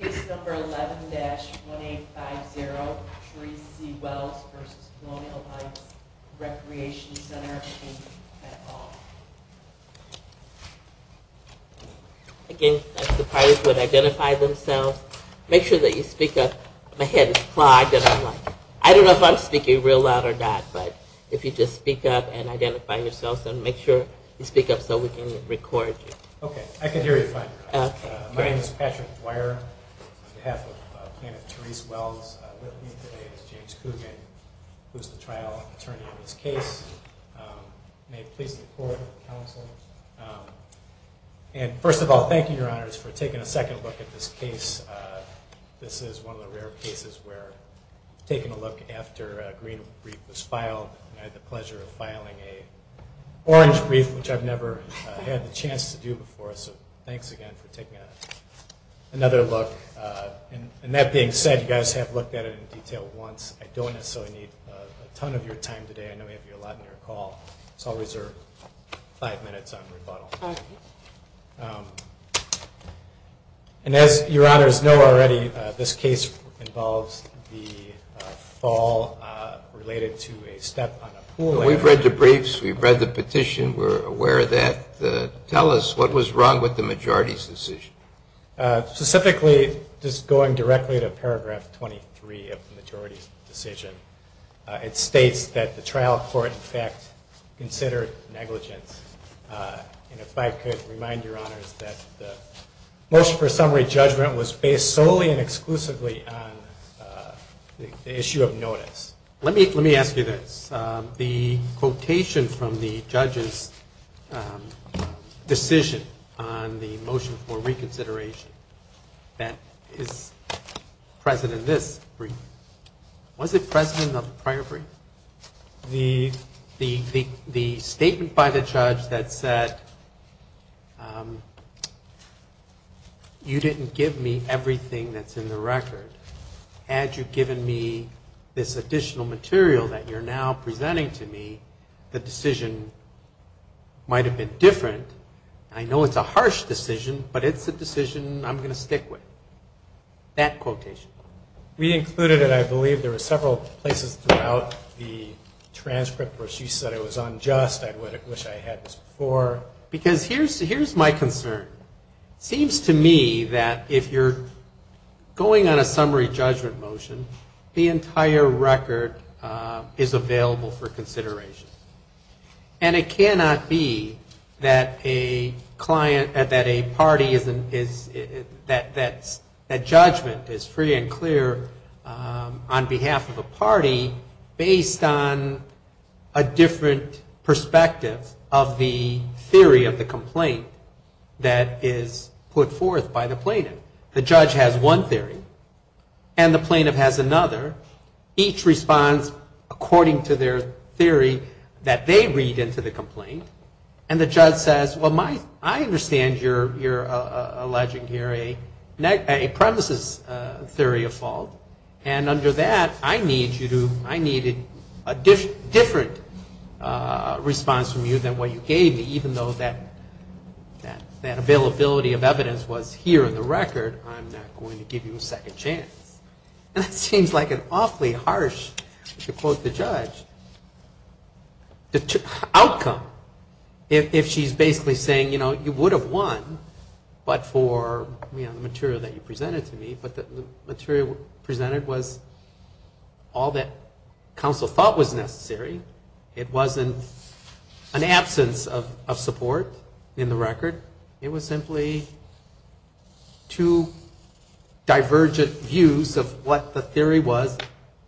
Case number 11-1850, 3 C Wells v. Colonial Heights Recreation Center, Inc. Again, I'd like the parties to identify themselves. Make sure that you speak up. My head is clogged and I'm like, I don't know if I'm speaking real loud or not, but if you just speak up and identify yourselves and make sure you speak up so we can record you. Okay, I can hear you fine. My name is Patrick Dwyer. On behalf of plaintiff Therese Wells, with me today is James Coogan, who is the trial attorney of this case. May it please the court and counsel. And first of all, thank you, Your Honors, for taking a second look at this case. This is one of the rare cases where taking a look after a green brief was filed and I had the pleasure of filing an orange brief, which I've never had the chance to do before, so thanks again for taking another look. And that being said, you guys have looked at it in detail once. I don't necessarily need a ton of your time today. I know we have a lot on your call, so I'll reserve five minutes on rebuttal. And as Your Honors know already, this case involves the fall related to a step on a pool. We've read the briefs, we've read the petition, we're aware of that. Tell us what was wrong with the majority's decision. Specifically, just going directly to paragraph 23 of the majority's decision, it states that the trial court in fact considered negligence. And if I could remind Your Honors that the motion for summary judgment was based solely and exclusively on the issue of notice. Let me ask you this. The quotation from the judge's decision on the motion for reconsideration that is present in this brief, was it present in the prior brief? The statement by the judge that said, you didn't give me everything that's in the record. Had you given me this additional material that you're now presenting to me, the decision might have been different. I know it's a harsh decision, but it's a decision I'm going to stick with. That quotation. We included it, I believe, there were several places throughout the transcript where she said it was unjust, I wish I had this before. Because here's my concern. Seems to me that if you're going on a summary judgment motion, the entire record is available for consideration. And it cannot be that a client, that a party is, that judgment is free and clear on behalf of a party based on a different perspective of the theory of the complaint that is put forth by the plaintiff. The judge has one theory, and the plaintiff has another. Each responds according to their theory that they read into the complaint. And the judge says, well, I understand you're alleging here a premises theory of fault. And under that, I need you to, I needed a different response from you than what you gave me, even though that availability of evidence was here in the record, I'm not going to give you a second chance. And that seems like an awfully harsh, to quote the judge, outcome. If she's basically saying, you know, you would have won, but for, you know, the material that you presented to me, but the material presented was all that counsel thought was necessary. It wasn't an absence of support in the record. It was simply two divergent views of what the theory was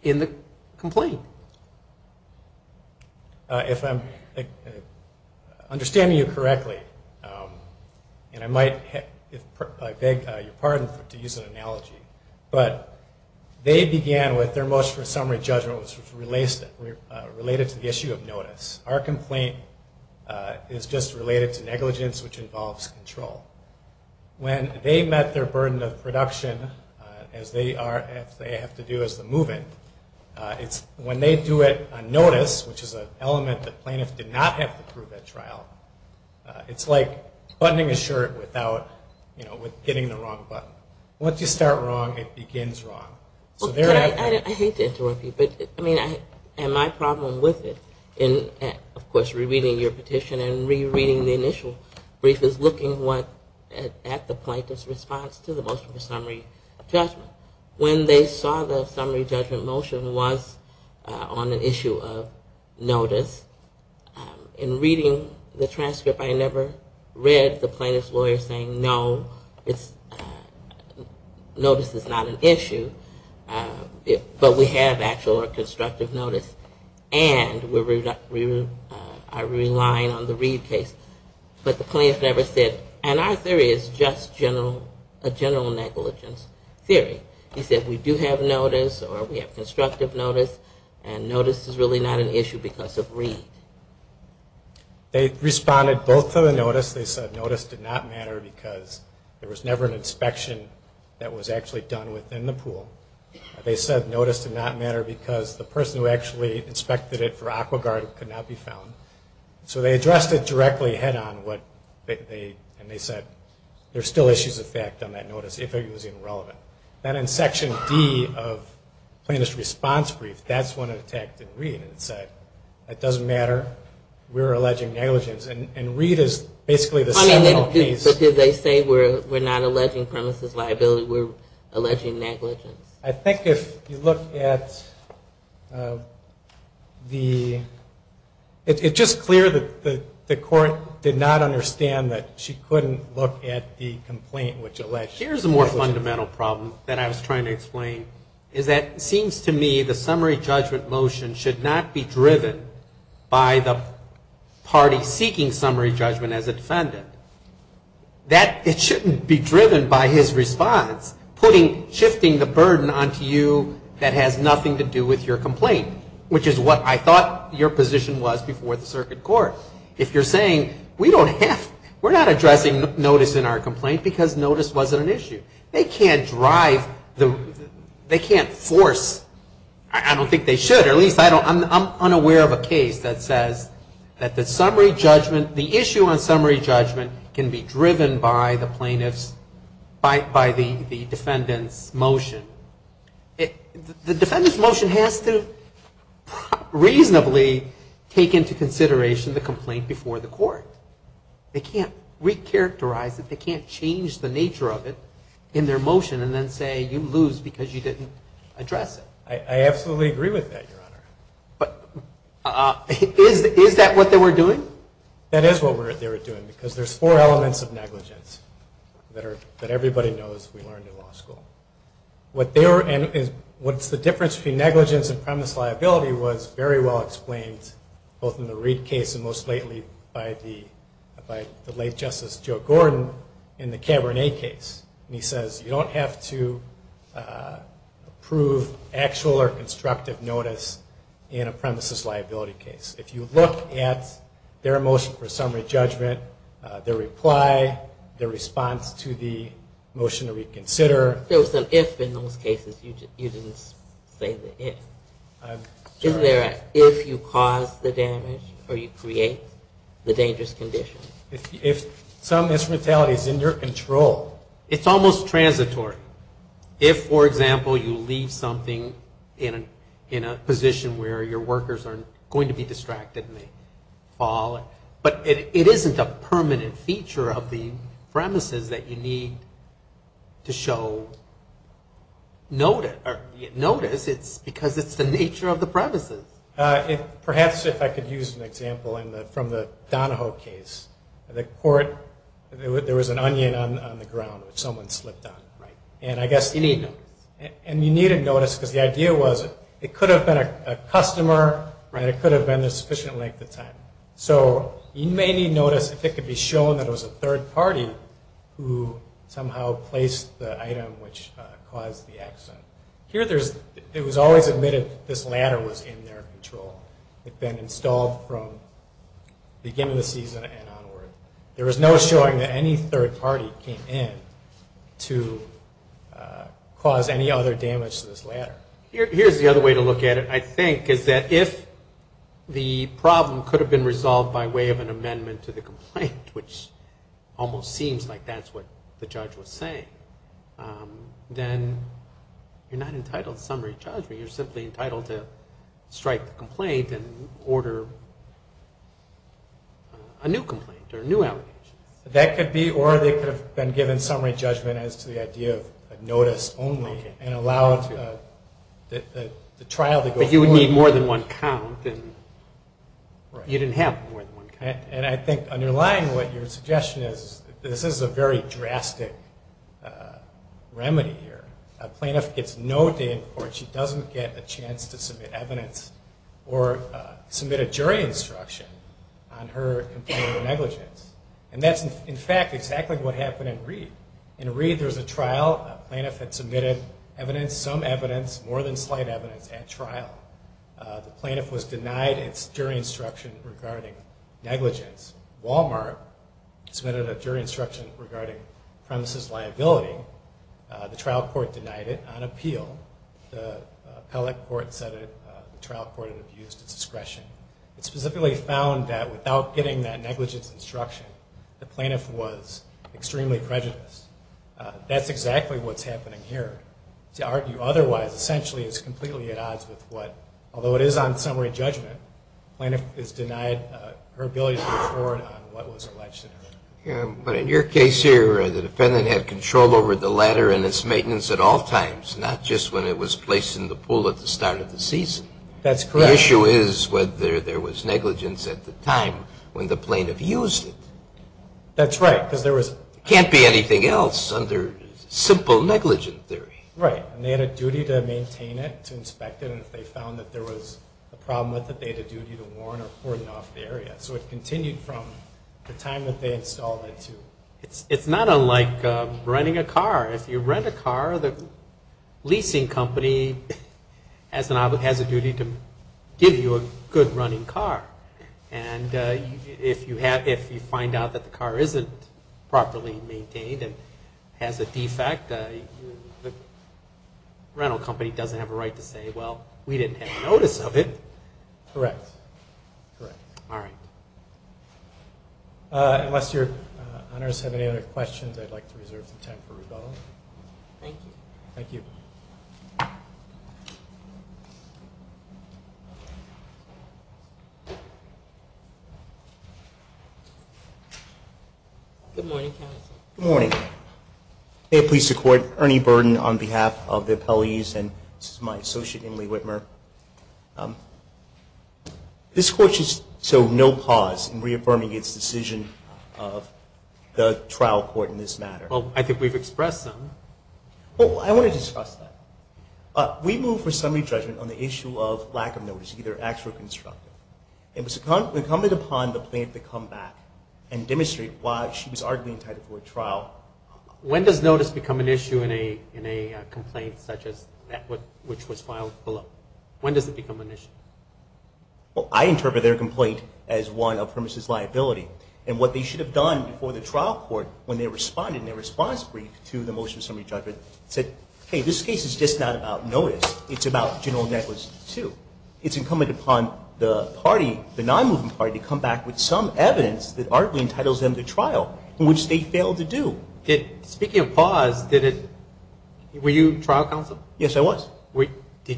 in the complaint. So, if I'm understanding you correctly, and I might, I beg your pardon to use an analogy, but they began with their motion for summary judgment was related to the issue of notice. Our complaint is just related to negligence, which involves control. When they met their burden of production, as they are, as they have to do as the move-in, it's when they do it on notice, which is an element that plaintiffs did not have to prove at trial, it's like buttoning a shirt without, you know, with getting the wrong button. Once you start wrong, it begins wrong. I hate to interrupt you, but, I mean, and my problem with it, of course, rereading your petition and rereading the initial brief is looking at the plaintiff's response to the motion for summary judgment. When they saw the summary judgment motion was on an issue of notice, in reading the transcript, I never read the plaintiff's lawyer saying, no, notice is not an issue, but we have actual or constructive notice, and we are relying on the Reed case. But the plaintiff never said, and our theory is just a general negligence theory. He said, we do have notice, or we have constructive notice, and notice is really not an issue because of Reed. They responded both to the notice. They said notice did not matter because there was never an inspection that was actually done within the pool. They said notice did not matter because the person who actually inspected it for AquaGard could not be found. So they addressed it directly head on, and they said there's still issues of fact on that notice if it was irrelevant. Then in section D of plaintiff's response brief, that's when it attacked Reed. It said, it doesn't matter, we're alleging negligence, and Reed is basically the seminal piece. But did they say we're not alleging premises liability, we're alleging negligence? I think if you look at the, it's just clear that the court did not understand that she couldn't look at the complaint which alleged negligence. Here's a more fundamental problem that I was trying to explain, is that it seems to me the summary judgment motion should not be driven by the party seeking summary judgment as a defendant. That it shouldn't be driven by his response, putting, shifting the burden onto you that has nothing to do with your complaint, which is what I thought your position was before the circuit court. If you're saying we don't have, we're not addressing notice in our complaint because notice wasn't an issue. They can't drive the, they can't force, I don't think they should. Or at least I don't, I'm unaware of a case that says that the summary judgment, the issue on summary judgment can be driven by the party seeking summary judgment. It can't be driven by the plaintiffs, by the defendant's motion. The defendant's motion has to reasonably take into consideration the complaint before the court. They can't recharacterize it, they can't change the nature of it in their motion and then say you lose because you didn't address it. I absolutely agree with that, your honor. Is that what they were doing? That is what they were doing because there's four elements of negligence that everybody knows we learned in law school. What they were, and what's the difference between negligence and premise liability was very well explained both in the Reid case and most lately by the late Justice Joe Gordon in the Cabernet case. He says you don't have to approve actual or constructive notice in a premises liability case. If you look at their motion for summary judgment, their reply, their response to the motion to reconsider. There was an if in those cases, you didn't say the if. Is there an if you cause the damage or you create the dangerous condition? It's almost transitory. If, for example, you leave something in a position where your workers are going to be distracted by the fall, but it isn't a permanent feature of the premises that you need to show notice. It's because it's the nature of the premises. Perhaps if I could use an example from the Donahoe case, the court, there was an onion on the ground which someone slipped on. You need notice. And you needed notice because the idea was it could have been a customer and it could have been a sufficient length of time. So you may need notice if it could be shown that it was a third party who somehow placed the item which caused the accident. Here it was always admitted this ladder was in their control. It had been installed from the beginning of the season and onward. There was no showing that any third party came in to cause any other damage to this ladder. Here's the other way to look at it, I think, is that if the problem could have been resolved by way of an amendment to the complaint, which almost seems like that's what the judge was saying, then you're not entitled to summary judgment. You're simply entitled to strike the complaint and order a new complaint or a new order. That could be or they could have been given summary judgment as to the idea of notice only and allowed the trial to go forward. But you would need more than one count and you didn't have more than one count. And I think underlying what your suggestion is, this is a very drastic remedy here. A plaintiff gets no day in court, she doesn't get a chance to submit evidence or submit a jury instruction on her complaint of negligence. And that's, in fact, exactly what happened in Reed. In Reed there was a trial, a plaintiff had submitted evidence, some evidence, more than slight evidence at trial. The plaintiff was denied its jury instruction regarding negligence. Walmart submitted a jury instruction regarding premises liability. The trial court denied it on appeal. The appellate court said it, the trial court had abused its discretion. It specifically found that without getting that negligence instruction, the plaintiff was extremely prejudiced. That's exactly what's happening here. To argue otherwise essentially is completely at odds with what, although it is on summary judgment, the plaintiff is denied her ability to go forward on what was alleged. But in your case here, the defendant had control over the ladder and its maintenance at all times, not just when it was placed in the pool at the start of the season. That's correct. The issue is whether there was negligence at the time when the plaintiff used it. That's right, because there was... It can't be anything else under simple negligence theory. Right. And they had a duty to maintain it, to inspect it, and if they found that there was a problem with it, they had a duty to warn or cordon off the area. So it continued from the time that they installed it to... It's not unlike renting a car. If you rent a car, the leasing company has a duty to warn you. It's not like renting a car. If you rent a car, the leasing company has a duty to warn you. It's a duty to give you a good running car. And if you find out that the car isn't properly maintained and has a defect, the rental company doesn't have a right to say, well, we didn't have notice of it. Correct. All right. Unless your honors have any other questions, I'd like to reserve some time for rebuttal. Thank you. Thank you. Good morning, counsel. Good morning. May it please the Court, Ernie Burden on behalf of the appellees, and this is my associate Emily Whitmer. This Court should show no pause in reaffirming its decision of the trial court in this matter. Well, I think we've expressed them. Well, I want to discuss that. We move for summary judgment on the issue of lack of notice, either actual or constructive. It was incumbent upon the plaintiff to come back and demonstrate why she was arguably entitled for a trial. When does notice become an issue in a complaint such as that which was filed below? When does it become an issue? Well, I interpret their complaint as one of premises liability. And what they should have done before the trial court when they responded in their response brief to the motion of summary judgment, said, hey, this case is just not about notice. It's about general negligence, too. It's incumbent upon the party, the non-moving party, to come back with some evidence that arguably entitles them to trial, which they failed to do. Speaking of pause, were you trial counsel? Yes, I was. I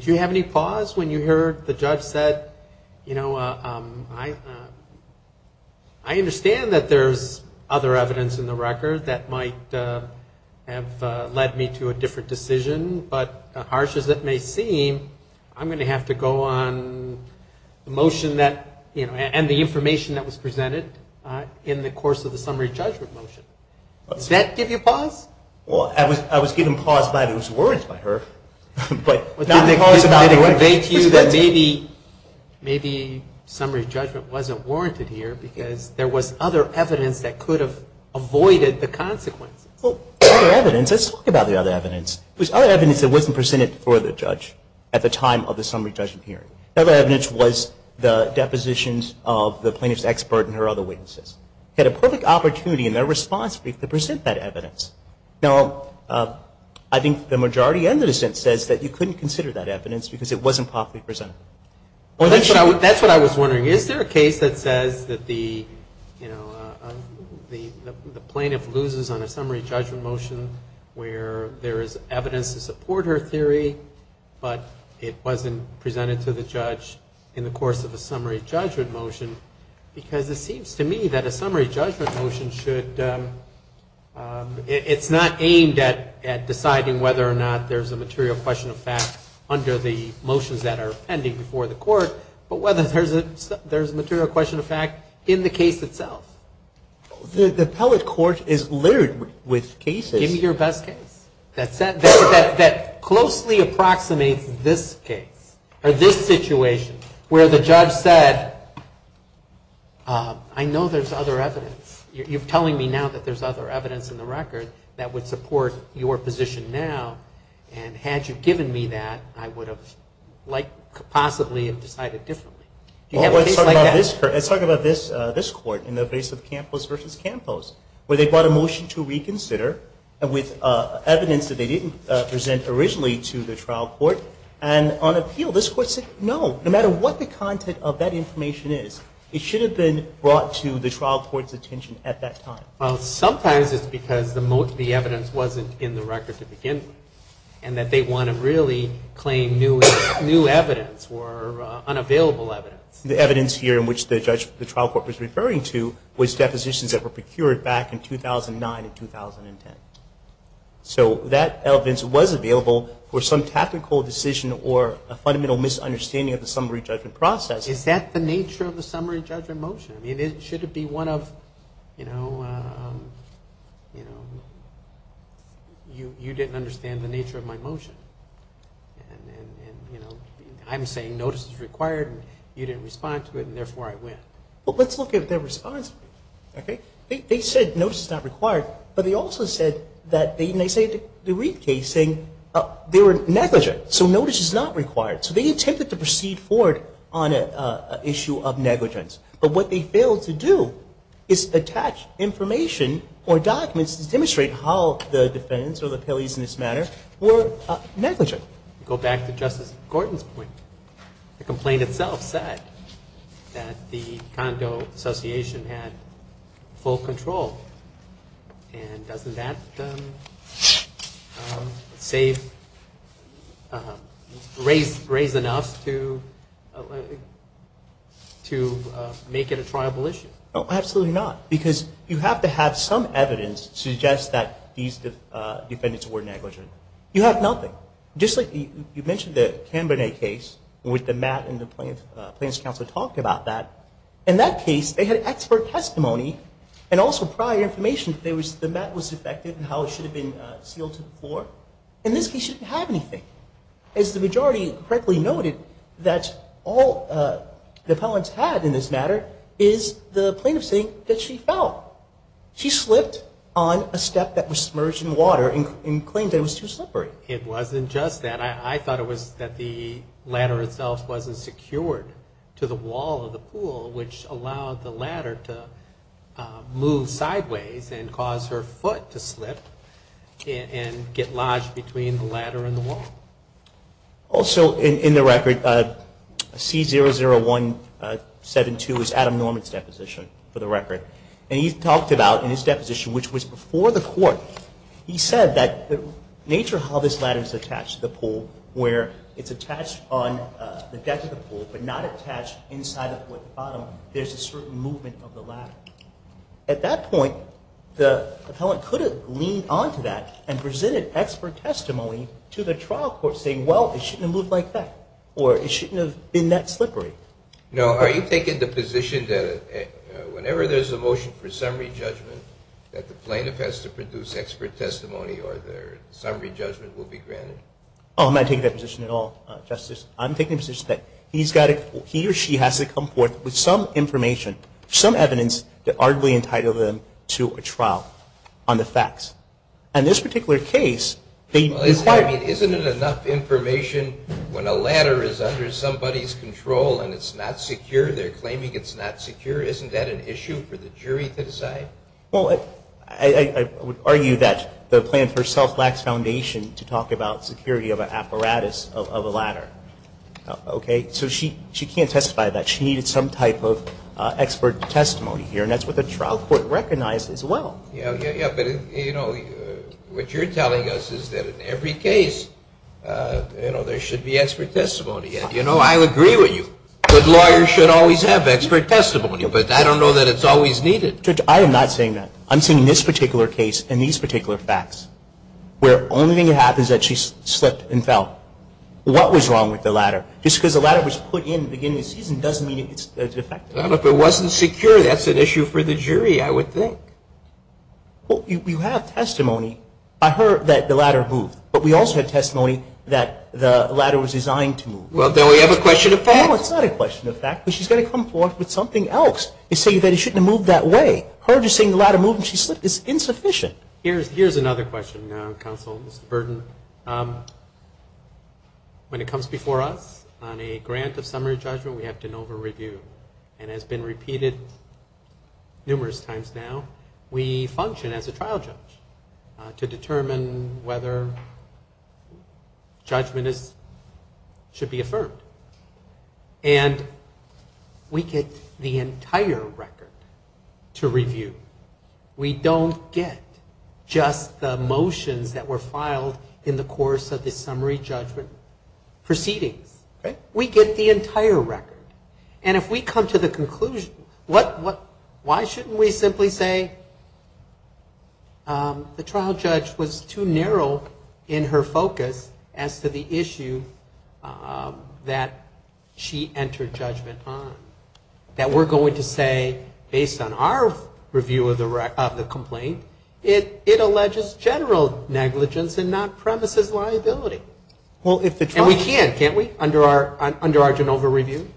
understand that there's other evidence in the record that might have led me to a different decision, but harsh as it may seem, I'm going to have to go on the motion and the information that was presented in the course of the summary judgment motion. Does that give you pause? Well, I was given pause by those words by her. Maybe summary judgment wasn't warranted here because there was other evidence that could have avoided the consequences. Other evidence? Let's talk about the other evidence. There was other evidence that wasn't presented for the judge at the time of the summary judgment hearing. That evidence was the depositions of the plaintiff's expert and her other witnesses. They had a perfect opportunity in their response brief to present that evidence. Now, I think the majority and the dissent says that you couldn't consider that evidence because it wasn't properly presented. That's what I was wondering. Is there a case that says that the plaintiff loses on a summary judgment motion where there is evidence to support her theory, but it wasn't presented to the judge in the course of a summary judgment motion? Because it seems to me that a summary judgment motion should, it's not aimed at deciding whether or not there's a material question of fact under the motions that are presented. Before the court, but whether there's a material question of fact in the case itself. The appellate court is littered with cases. Give me your best case that closely approximates this case, or this situation, where the judge said, I know there's other evidence. You're telling me now that there's other evidence in the record that would support your position now, and had you given me that, I would have liked to consider that. Possibly have decided differently. Let's talk about this court, in the case of Campos v. Campos, where they brought a motion to reconsider, with evidence that they didn't present originally to the trial court, and on appeal, this court said, no, no matter what the content of that information is, it should have been brought to the trial court's attention at that time. Well, sometimes it's because the evidence wasn't in the record to begin with, and that they want to really claim new evidence, and that's what they're trying to do. And the evidence here, which the trial court was referring to, was depositions that were procured back in 2009 and 2010. So that evidence was available for some tactical decision, or a fundamental misunderstanding of the summary judgment process. Is that the nature of the summary judgment motion? I mean, should it be one of, you know, you didn't understand the nature of my motion. I'm saying it's not the nature of my motion. I'm saying notice is required, and you didn't respond to it, and therefore I win. Well, let's look at their response, okay? They said notice is not required, but they also said that, and they say it in the Reid case, saying they were negligent. So notice is not required. So they attempted to proceed forward on an issue of negligence. But what they failed to do is attach information or documents to demonstrate how the defendants, or the appellees in this matter, were negligent. Go back to Justice Gordon's point. The complaint itself said that the condo association had full control. And doesn't that save, raise enough to make it a triable issue? Absolutely not. Because you have to have some evidence to suggest that these defendants were negligent. You have nothing. Just like the appellees in this case. You mentioned the Canberra case, with the mat and the plaintiff's counsel talking about that. In that case, they had expert testimony, and also prior information that the mat was affected and how it should have been sealed to the floor. And this case shouldn't have anything. As the majority correctly noted, that all the appellants had in this matter is the plaintiff saying that she fell. She slipped on a step that was submerged in water and claimed that it was too slippery. It wasn't just that. I thought it was that the ladder itself wasn't secured to the wall of the pool, which allowed the ladder to move sideways and cause her foot to slip and get lodged between the ladder and the wall. Also, in the record, C00172 is Adam Norman's deposition for the record. And he talked about, in his deposition, which was before the court, he said that Nature House, which is the pool, where it's attached on the deck of the pool but not attached inside of the pool at the bottom, there's a certain movement of the ladder. At that point, the appellant could have leaned on to that and presented expert testimony to the trial court saying, well, it shouldn't have moved like that or it shouldn't have been that slippery. No. Are you thinking the position that whenever there's a motion for summary judgment that the plaintiff has to produce expert testimony or their summary judgment will be based on that? Oh, I'm not taking that position at all, Justice. I'm taking the position that he or she has to come forth with some information, some evidence, to arguably entitle them to a trial on the facts. And in this particular case, they require... Well, isn't it enough information when a ladder is under somebody's control and it's not secure? They're claiming it's not secure. Isn't that an issue for the jury to decide? Well, I would argue that the plan for a self-laxed foundation to talk to the jury about whether or not the ladder is secure or not is an issue. I'm not talking about security of an apparatus of a ladder, okay? So she can't testify to that. She needed some type of expert testimony here, and that's what the trial court recognized as well. Yeah, but, you know, what you're telling us is that in every case, you know, there should be expert testimony. And, you know, I agree with you. Good lawyers should always have expert testimony, but I don't know that it's always needed. Judge, I am not saying that. I'm saying in this particular case and these particular facts, where the only thing that happens at trial is that the jury has to come forth with an expert testimony. Well, you have testimony. I heard that the ladder moved. But we also had testimony that the ladder was designed to move. Well, don't we have a question of fact? No, it's not a question of fact. She's going to come forth with something else and say that it shouldn't have moved that way. Her just saying the ladder moved and she slipped is insufficient. Here's another question, Counsel. Mr. Burton. Yes. When it comes before us on a grant of summary judgment, we have to know the review. And it has been repeated numerous times now. We function as a trial judge to determine whether judgment is, should be affirmed. And we get the entire record to review. We don't get just the motions that were filed in the first trial. We get the entire record. And if we come to the conclusion, what, why shouldn't we simply say the trial judge was too narrow in her focus as to the issue that she entered judgment on? That we're going to say, based on our review of the complaint, it alleges general negligence and not premises of negligence. And we're going to say, based on our review of the complaint, it alleges general negligence and not premises of negligence. And we can't, can't we, under our Genova review?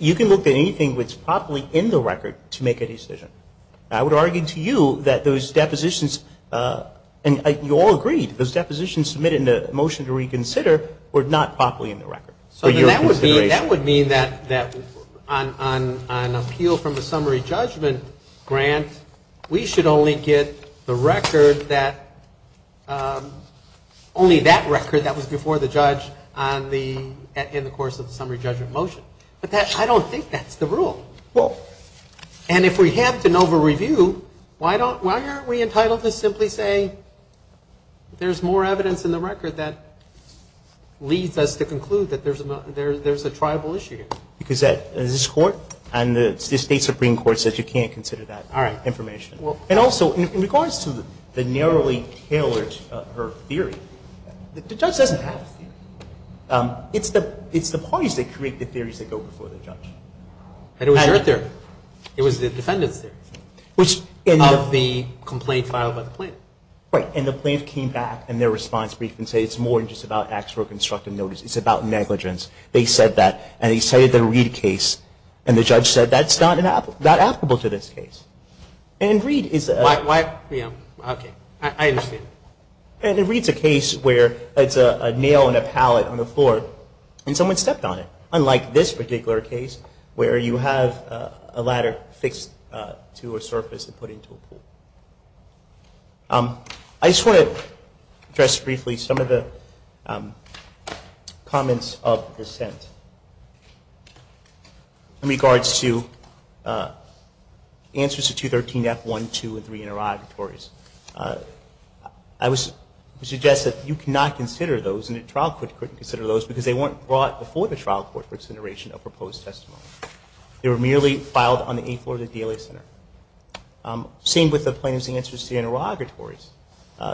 You can look at anything that's properly in the record to make a decision. I would argue to you that those depositions, and you all agreed, those depositions submitted in the motion to reconsider were not properly in the record. So then that would mean that on an appeal from the summary judgment grant, we should only get the record that, you know, the trial judge was too narrow in her focus. Only that record that was before the judge on the, in the course of the summary judgment motion. But that, I don't think that's the rule. And if we have Genova review, why don't, why aren't we entitled to simply say, there's more evidence in the record that leads us to conclude that there's a, there's a tribal issue here? Because that, this Court and the State Supreme Court says you can't consider that. All right, information. And also, in regards to the narrowly tailored, her theory, the judge doesn't have a theory. It's the, it's the parties that create the theories that go before the judge. And it was your theory. It was the defendant's theory of the complaint filed by the plaintiff. Right, and the plaintiff came back in their response brief and said it's more than just about acts for a constructive notice. It's about negligence. They said that, and they cited the Reid case, and the judge said that's not an, not applicable to this case. And Reid is a. Why, why, yeah, okay, I understand. And Reid's a case where it's a nail and a pallet on the floor, and someone stepped on it. Unlike this particular case, where you have a ladder fixed to a surface and put into a pool. I just want to address briefly some of the comments of dissent. In regards to answers to the question of whether or not the defendant's theory is true. In regards to 213F1, 2, and 3 interrogatories, I would suggest that you cannot consider those, and the trial court couldn't consider those, because they weren't brought before the trial court for consideration of proposed testimony. They were merely filed on the eighth floor of the DLA Center. Same with the plaintiff's answers to the interrogatories.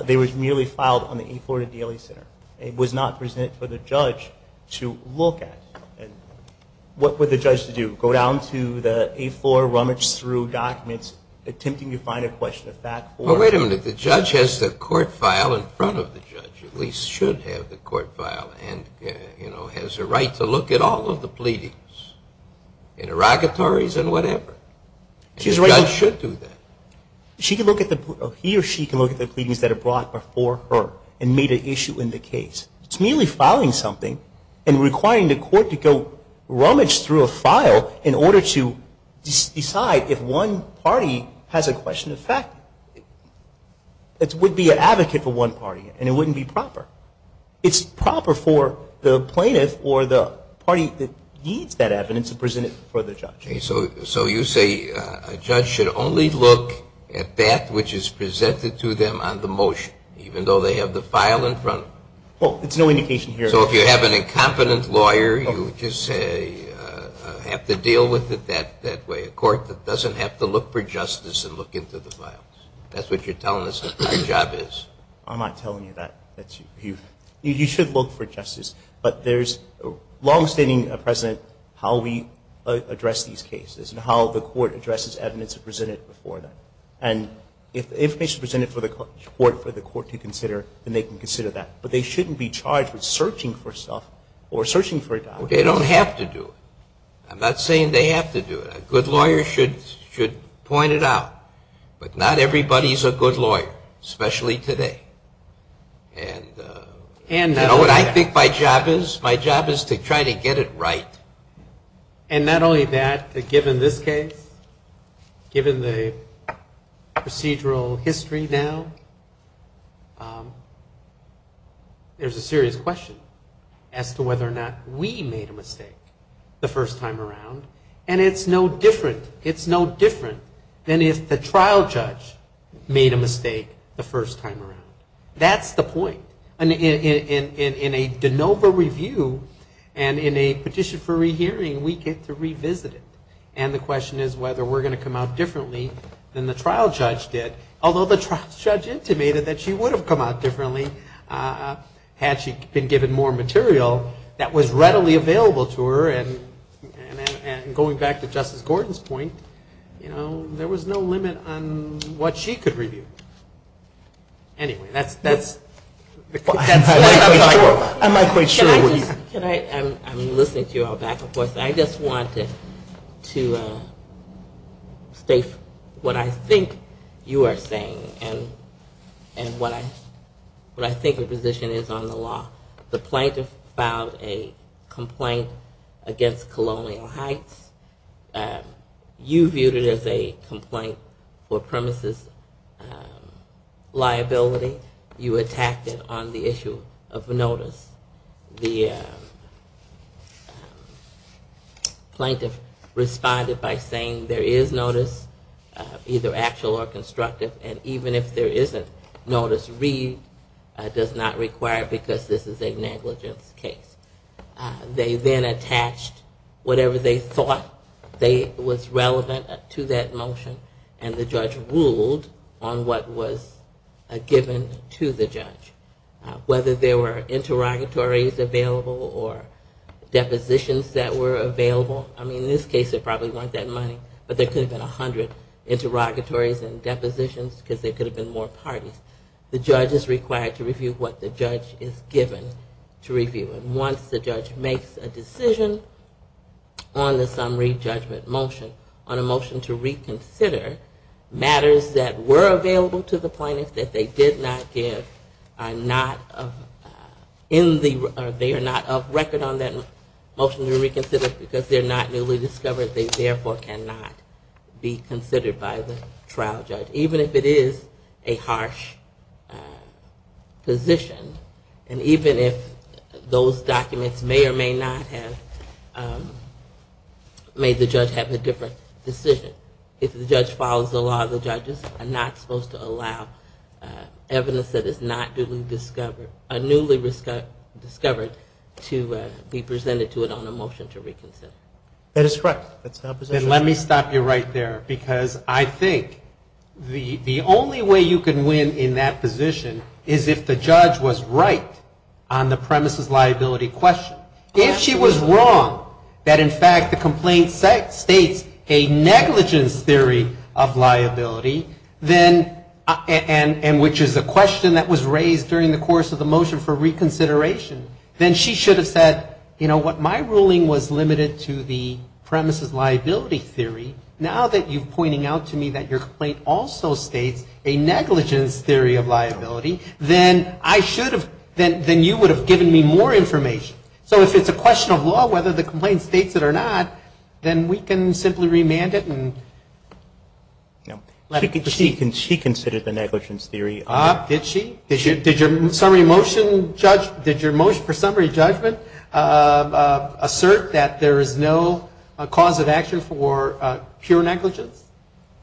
They were merely filed on the eighth floor of the DLA Center. It was not presented for the judge to look at. And what would the judge do? Go down to the eighth floor, rummage through documents, and look at them. And the judge is attempting to find a question of fact for the plaintiff. Well, wait a minute. The judge has the court file in front of the judge, at least should have the court file, and, you know, has a right to look at all of the pleadings, interrogatories, and whatever. And the judge should do that. He or she can look at the pleadings that are brought before her and meet an issue in the case. It's merely filing something and requiring the court to go rummage through a file in order to decide if one party has a right to look at all of the pleadings. If one party has a question of fact, it would be an advocate for one party, and it wouldn't be proper. It's proper for the plaintiff or the party that needs that evidence to present it for the judge. So you say a judge should only look at that which is presented to them on the motion, even though they have the file in front of them? Well, it's no indication here. So if you have an incompetent lawyer, you would just say, have to deal with it that way. A court that doesn't have to look for justice and look into the files. That's what you're telling us the job is. I'm not telling you that. You should look for justice. But there's longstanding precedent how we address these cases and how the court addresses evidence presented before them. And if the information is presented for the court to consider, then they can consider that. But they shouldn't be charged with searching the evidence. They don't have to do it. I'm not saying they have to do it. A good lawyer should point it out. But not everybody's a good lawyer, especially today. And you know what I think my job is? My job is to try to get it right. And not only that, given this case, given the procedural history now, there's a serious question. As to whether or not we made a mistake the first time around. And it's no different. It's no different than if the trial judge made a mistake the first time around. That's the point. In a de novo review and in a petition for rehearing, we get to revisit it. And the question is whether we're going to come out differently than the trial judge did. Although the trial judge intimated that she would have come out differently had she been given more maturity. And given the material that was readily available to her, and going back to Justice Gordon's point, there was no limit on what she could review. Anyway, that's what I'm looking for. I'm listening to you all back and forth. I just wanted to state what I think you are saying and what I think the position is on the law. The plaintiff has a right to say that. The plaintiff filed a complaint against Colonial Heights. You viewed it as a complaint for premises liability. You attacked it on the issue of notice. The plaintiff responded by saying there is notice, either actual or constructive, and even if there isn't, notice does not require because this is a negligence. They then attached whatever they thought was relevant to that motion and the judge ruled on what was given to the judge. Whether there were interrogatories available or depositions that were available. I mean, in this case there probably weren't that many, but there could have been 100 interrogatories and depositions because there could have been more parties. The judge is required to review what the judge is given to review. And once the judge makes a decision on the summary judgment motion, on a motion to reconsider, matters that were available to the plaintiff that they did not give are not in the, or they are not of record on that motion to reconsider because they are not newly discovered. They therefore cannot be considered by the trial judge. Even if it is a harsh position. And even if those matters were available to the plaintiff. Those documents may or may not have made the judge have a different decision. If the judge follows the law, the judges are not supposed to allow evidence that is not newly discovered to be presented to it on a motion to reconsider. That is correct. Let me stop you right there. Because I think the only way you can win in that position is if the judge was right on the premises liability question. If she was wrong that in fact the complaint states a negligence theory of liability, then, and which is a question that was raised during the course of the motion for reconsideration, then she should have said, you know what, my ruling was limited to this. But if my ruling was limited to the premises liability theory, now that you are pointing out to me that your complaint also states a negligence theory of liability, then I should have, then you would have given me more information. So if it is a question of law whether the complaint states it or not, then we can simply remand it and let it proceed. She considered the negligence theory. Did she? Did your summary motion judge, did your motion for summary judgment assert that there is no negligence theory of liability? No cause of action for pure negligence?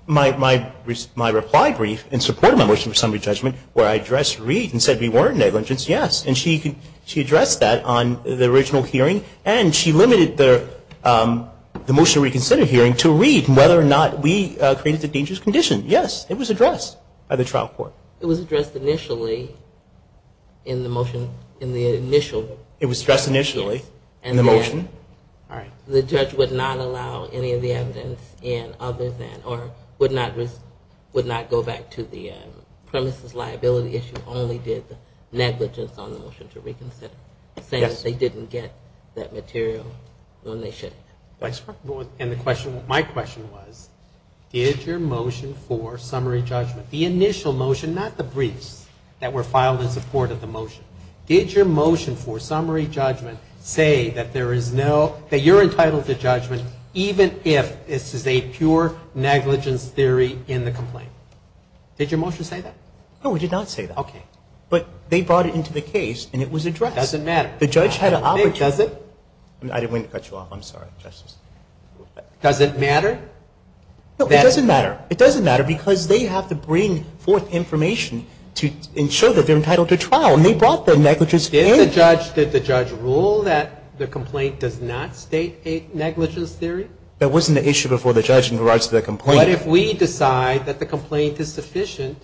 My reply brief in support of my motion for summary judgment where I addressed Reed and said we warrant negligence, yes. And she addressed that on the original hearing and she limited the motion to reconsider hearing to Reed and whether or not we created the dangerous condition. Yes, it was addressed by the trial court. It was addressed initially in the motion, in the initial. It was addressed initially in the motion. All right. The judge would not allow any of the evidence in other than or would not go back to the premises liability issue, only did negligence on the motion to reconsider. Yes. Saying they didn't get that material when they should have. And the question, my question was, did your motion for summary judgment, the initial motion, not the briefs that were filed in support of the motion, did your motion for summary judgment say that there is no negligence theory of liability? There is no, that you're entitled to judgment even if this is a pure negligence theory in the complaint. Did your motion say that? No, it did not say that. Okay. But they brought it into the case and it was addressed. Doesn't matter. The judge had an obligation. I didn't mean to cut you off. I'm sorry, Justice. Doesn't matter? No, it doesn't matter. It doesn't matter because they have to bring forth information to ensure that they're entitled to trial. And they brought the negligence theory. Did the judge rule that the complaint does not state a negligence theory? That wasn't the issue before the judge in regards to the complaint. What if we decide that the complaint is sufficient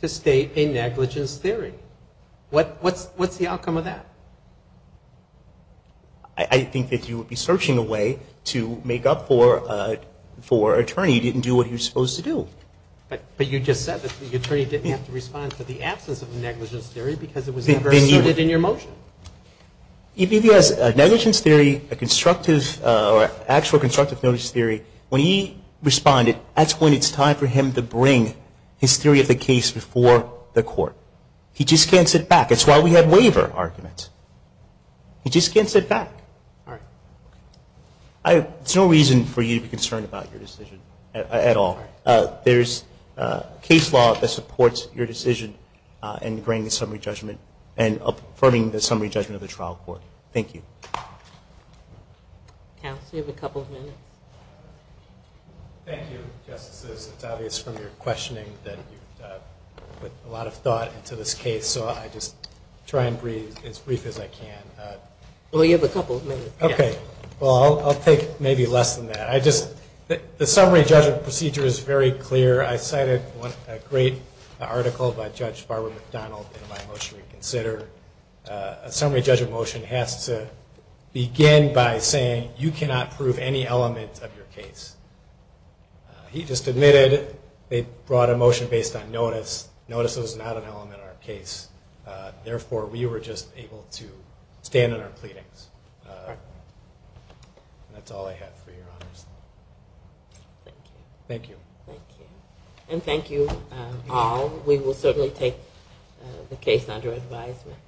to state a negligence theory? What's the outcome of that? I think that you would be searching a way to make up for an attorney who didn't do what he was supposed to do. I don't know. But you just said that the attorney didn't have to respond to the absence of the negligence theory because it was never asserted in your motion. If he has a negligence theory, a constructive or actual constructive notice theory, when he responded, that's when it's time for him to bring his theory of the case before the court. He just can't sit back. That's why we have waiver arguments. He just can't sit back. All right. There's no reason for you to be concerned about your decision at all. All right. All right. All right. All right. All right. Thank you. Counsel, you have a couple of minutes. Thank you, Justices. It's obvious from your questioning that you put a lot of thought into this case, so I just try and breathe as free as I can. Well, you have a couple of minutes. Okay. Well, I'll take maybe less than that. The summary judge of procedure is very clear. I cited a great article by Judge Barbara McDonald in my motion to reconsider. A summary judge of motion has to begin by saying you cannot prove any element of your case. He just admitted they brought a motion based on notice. Notice is not an element of our case. Thank you. Thank you. Thank you. Thank you. Thank you. Thank you. Thank you. Thank you. Thank you. And thank you all. We will certainly take the case under advisement.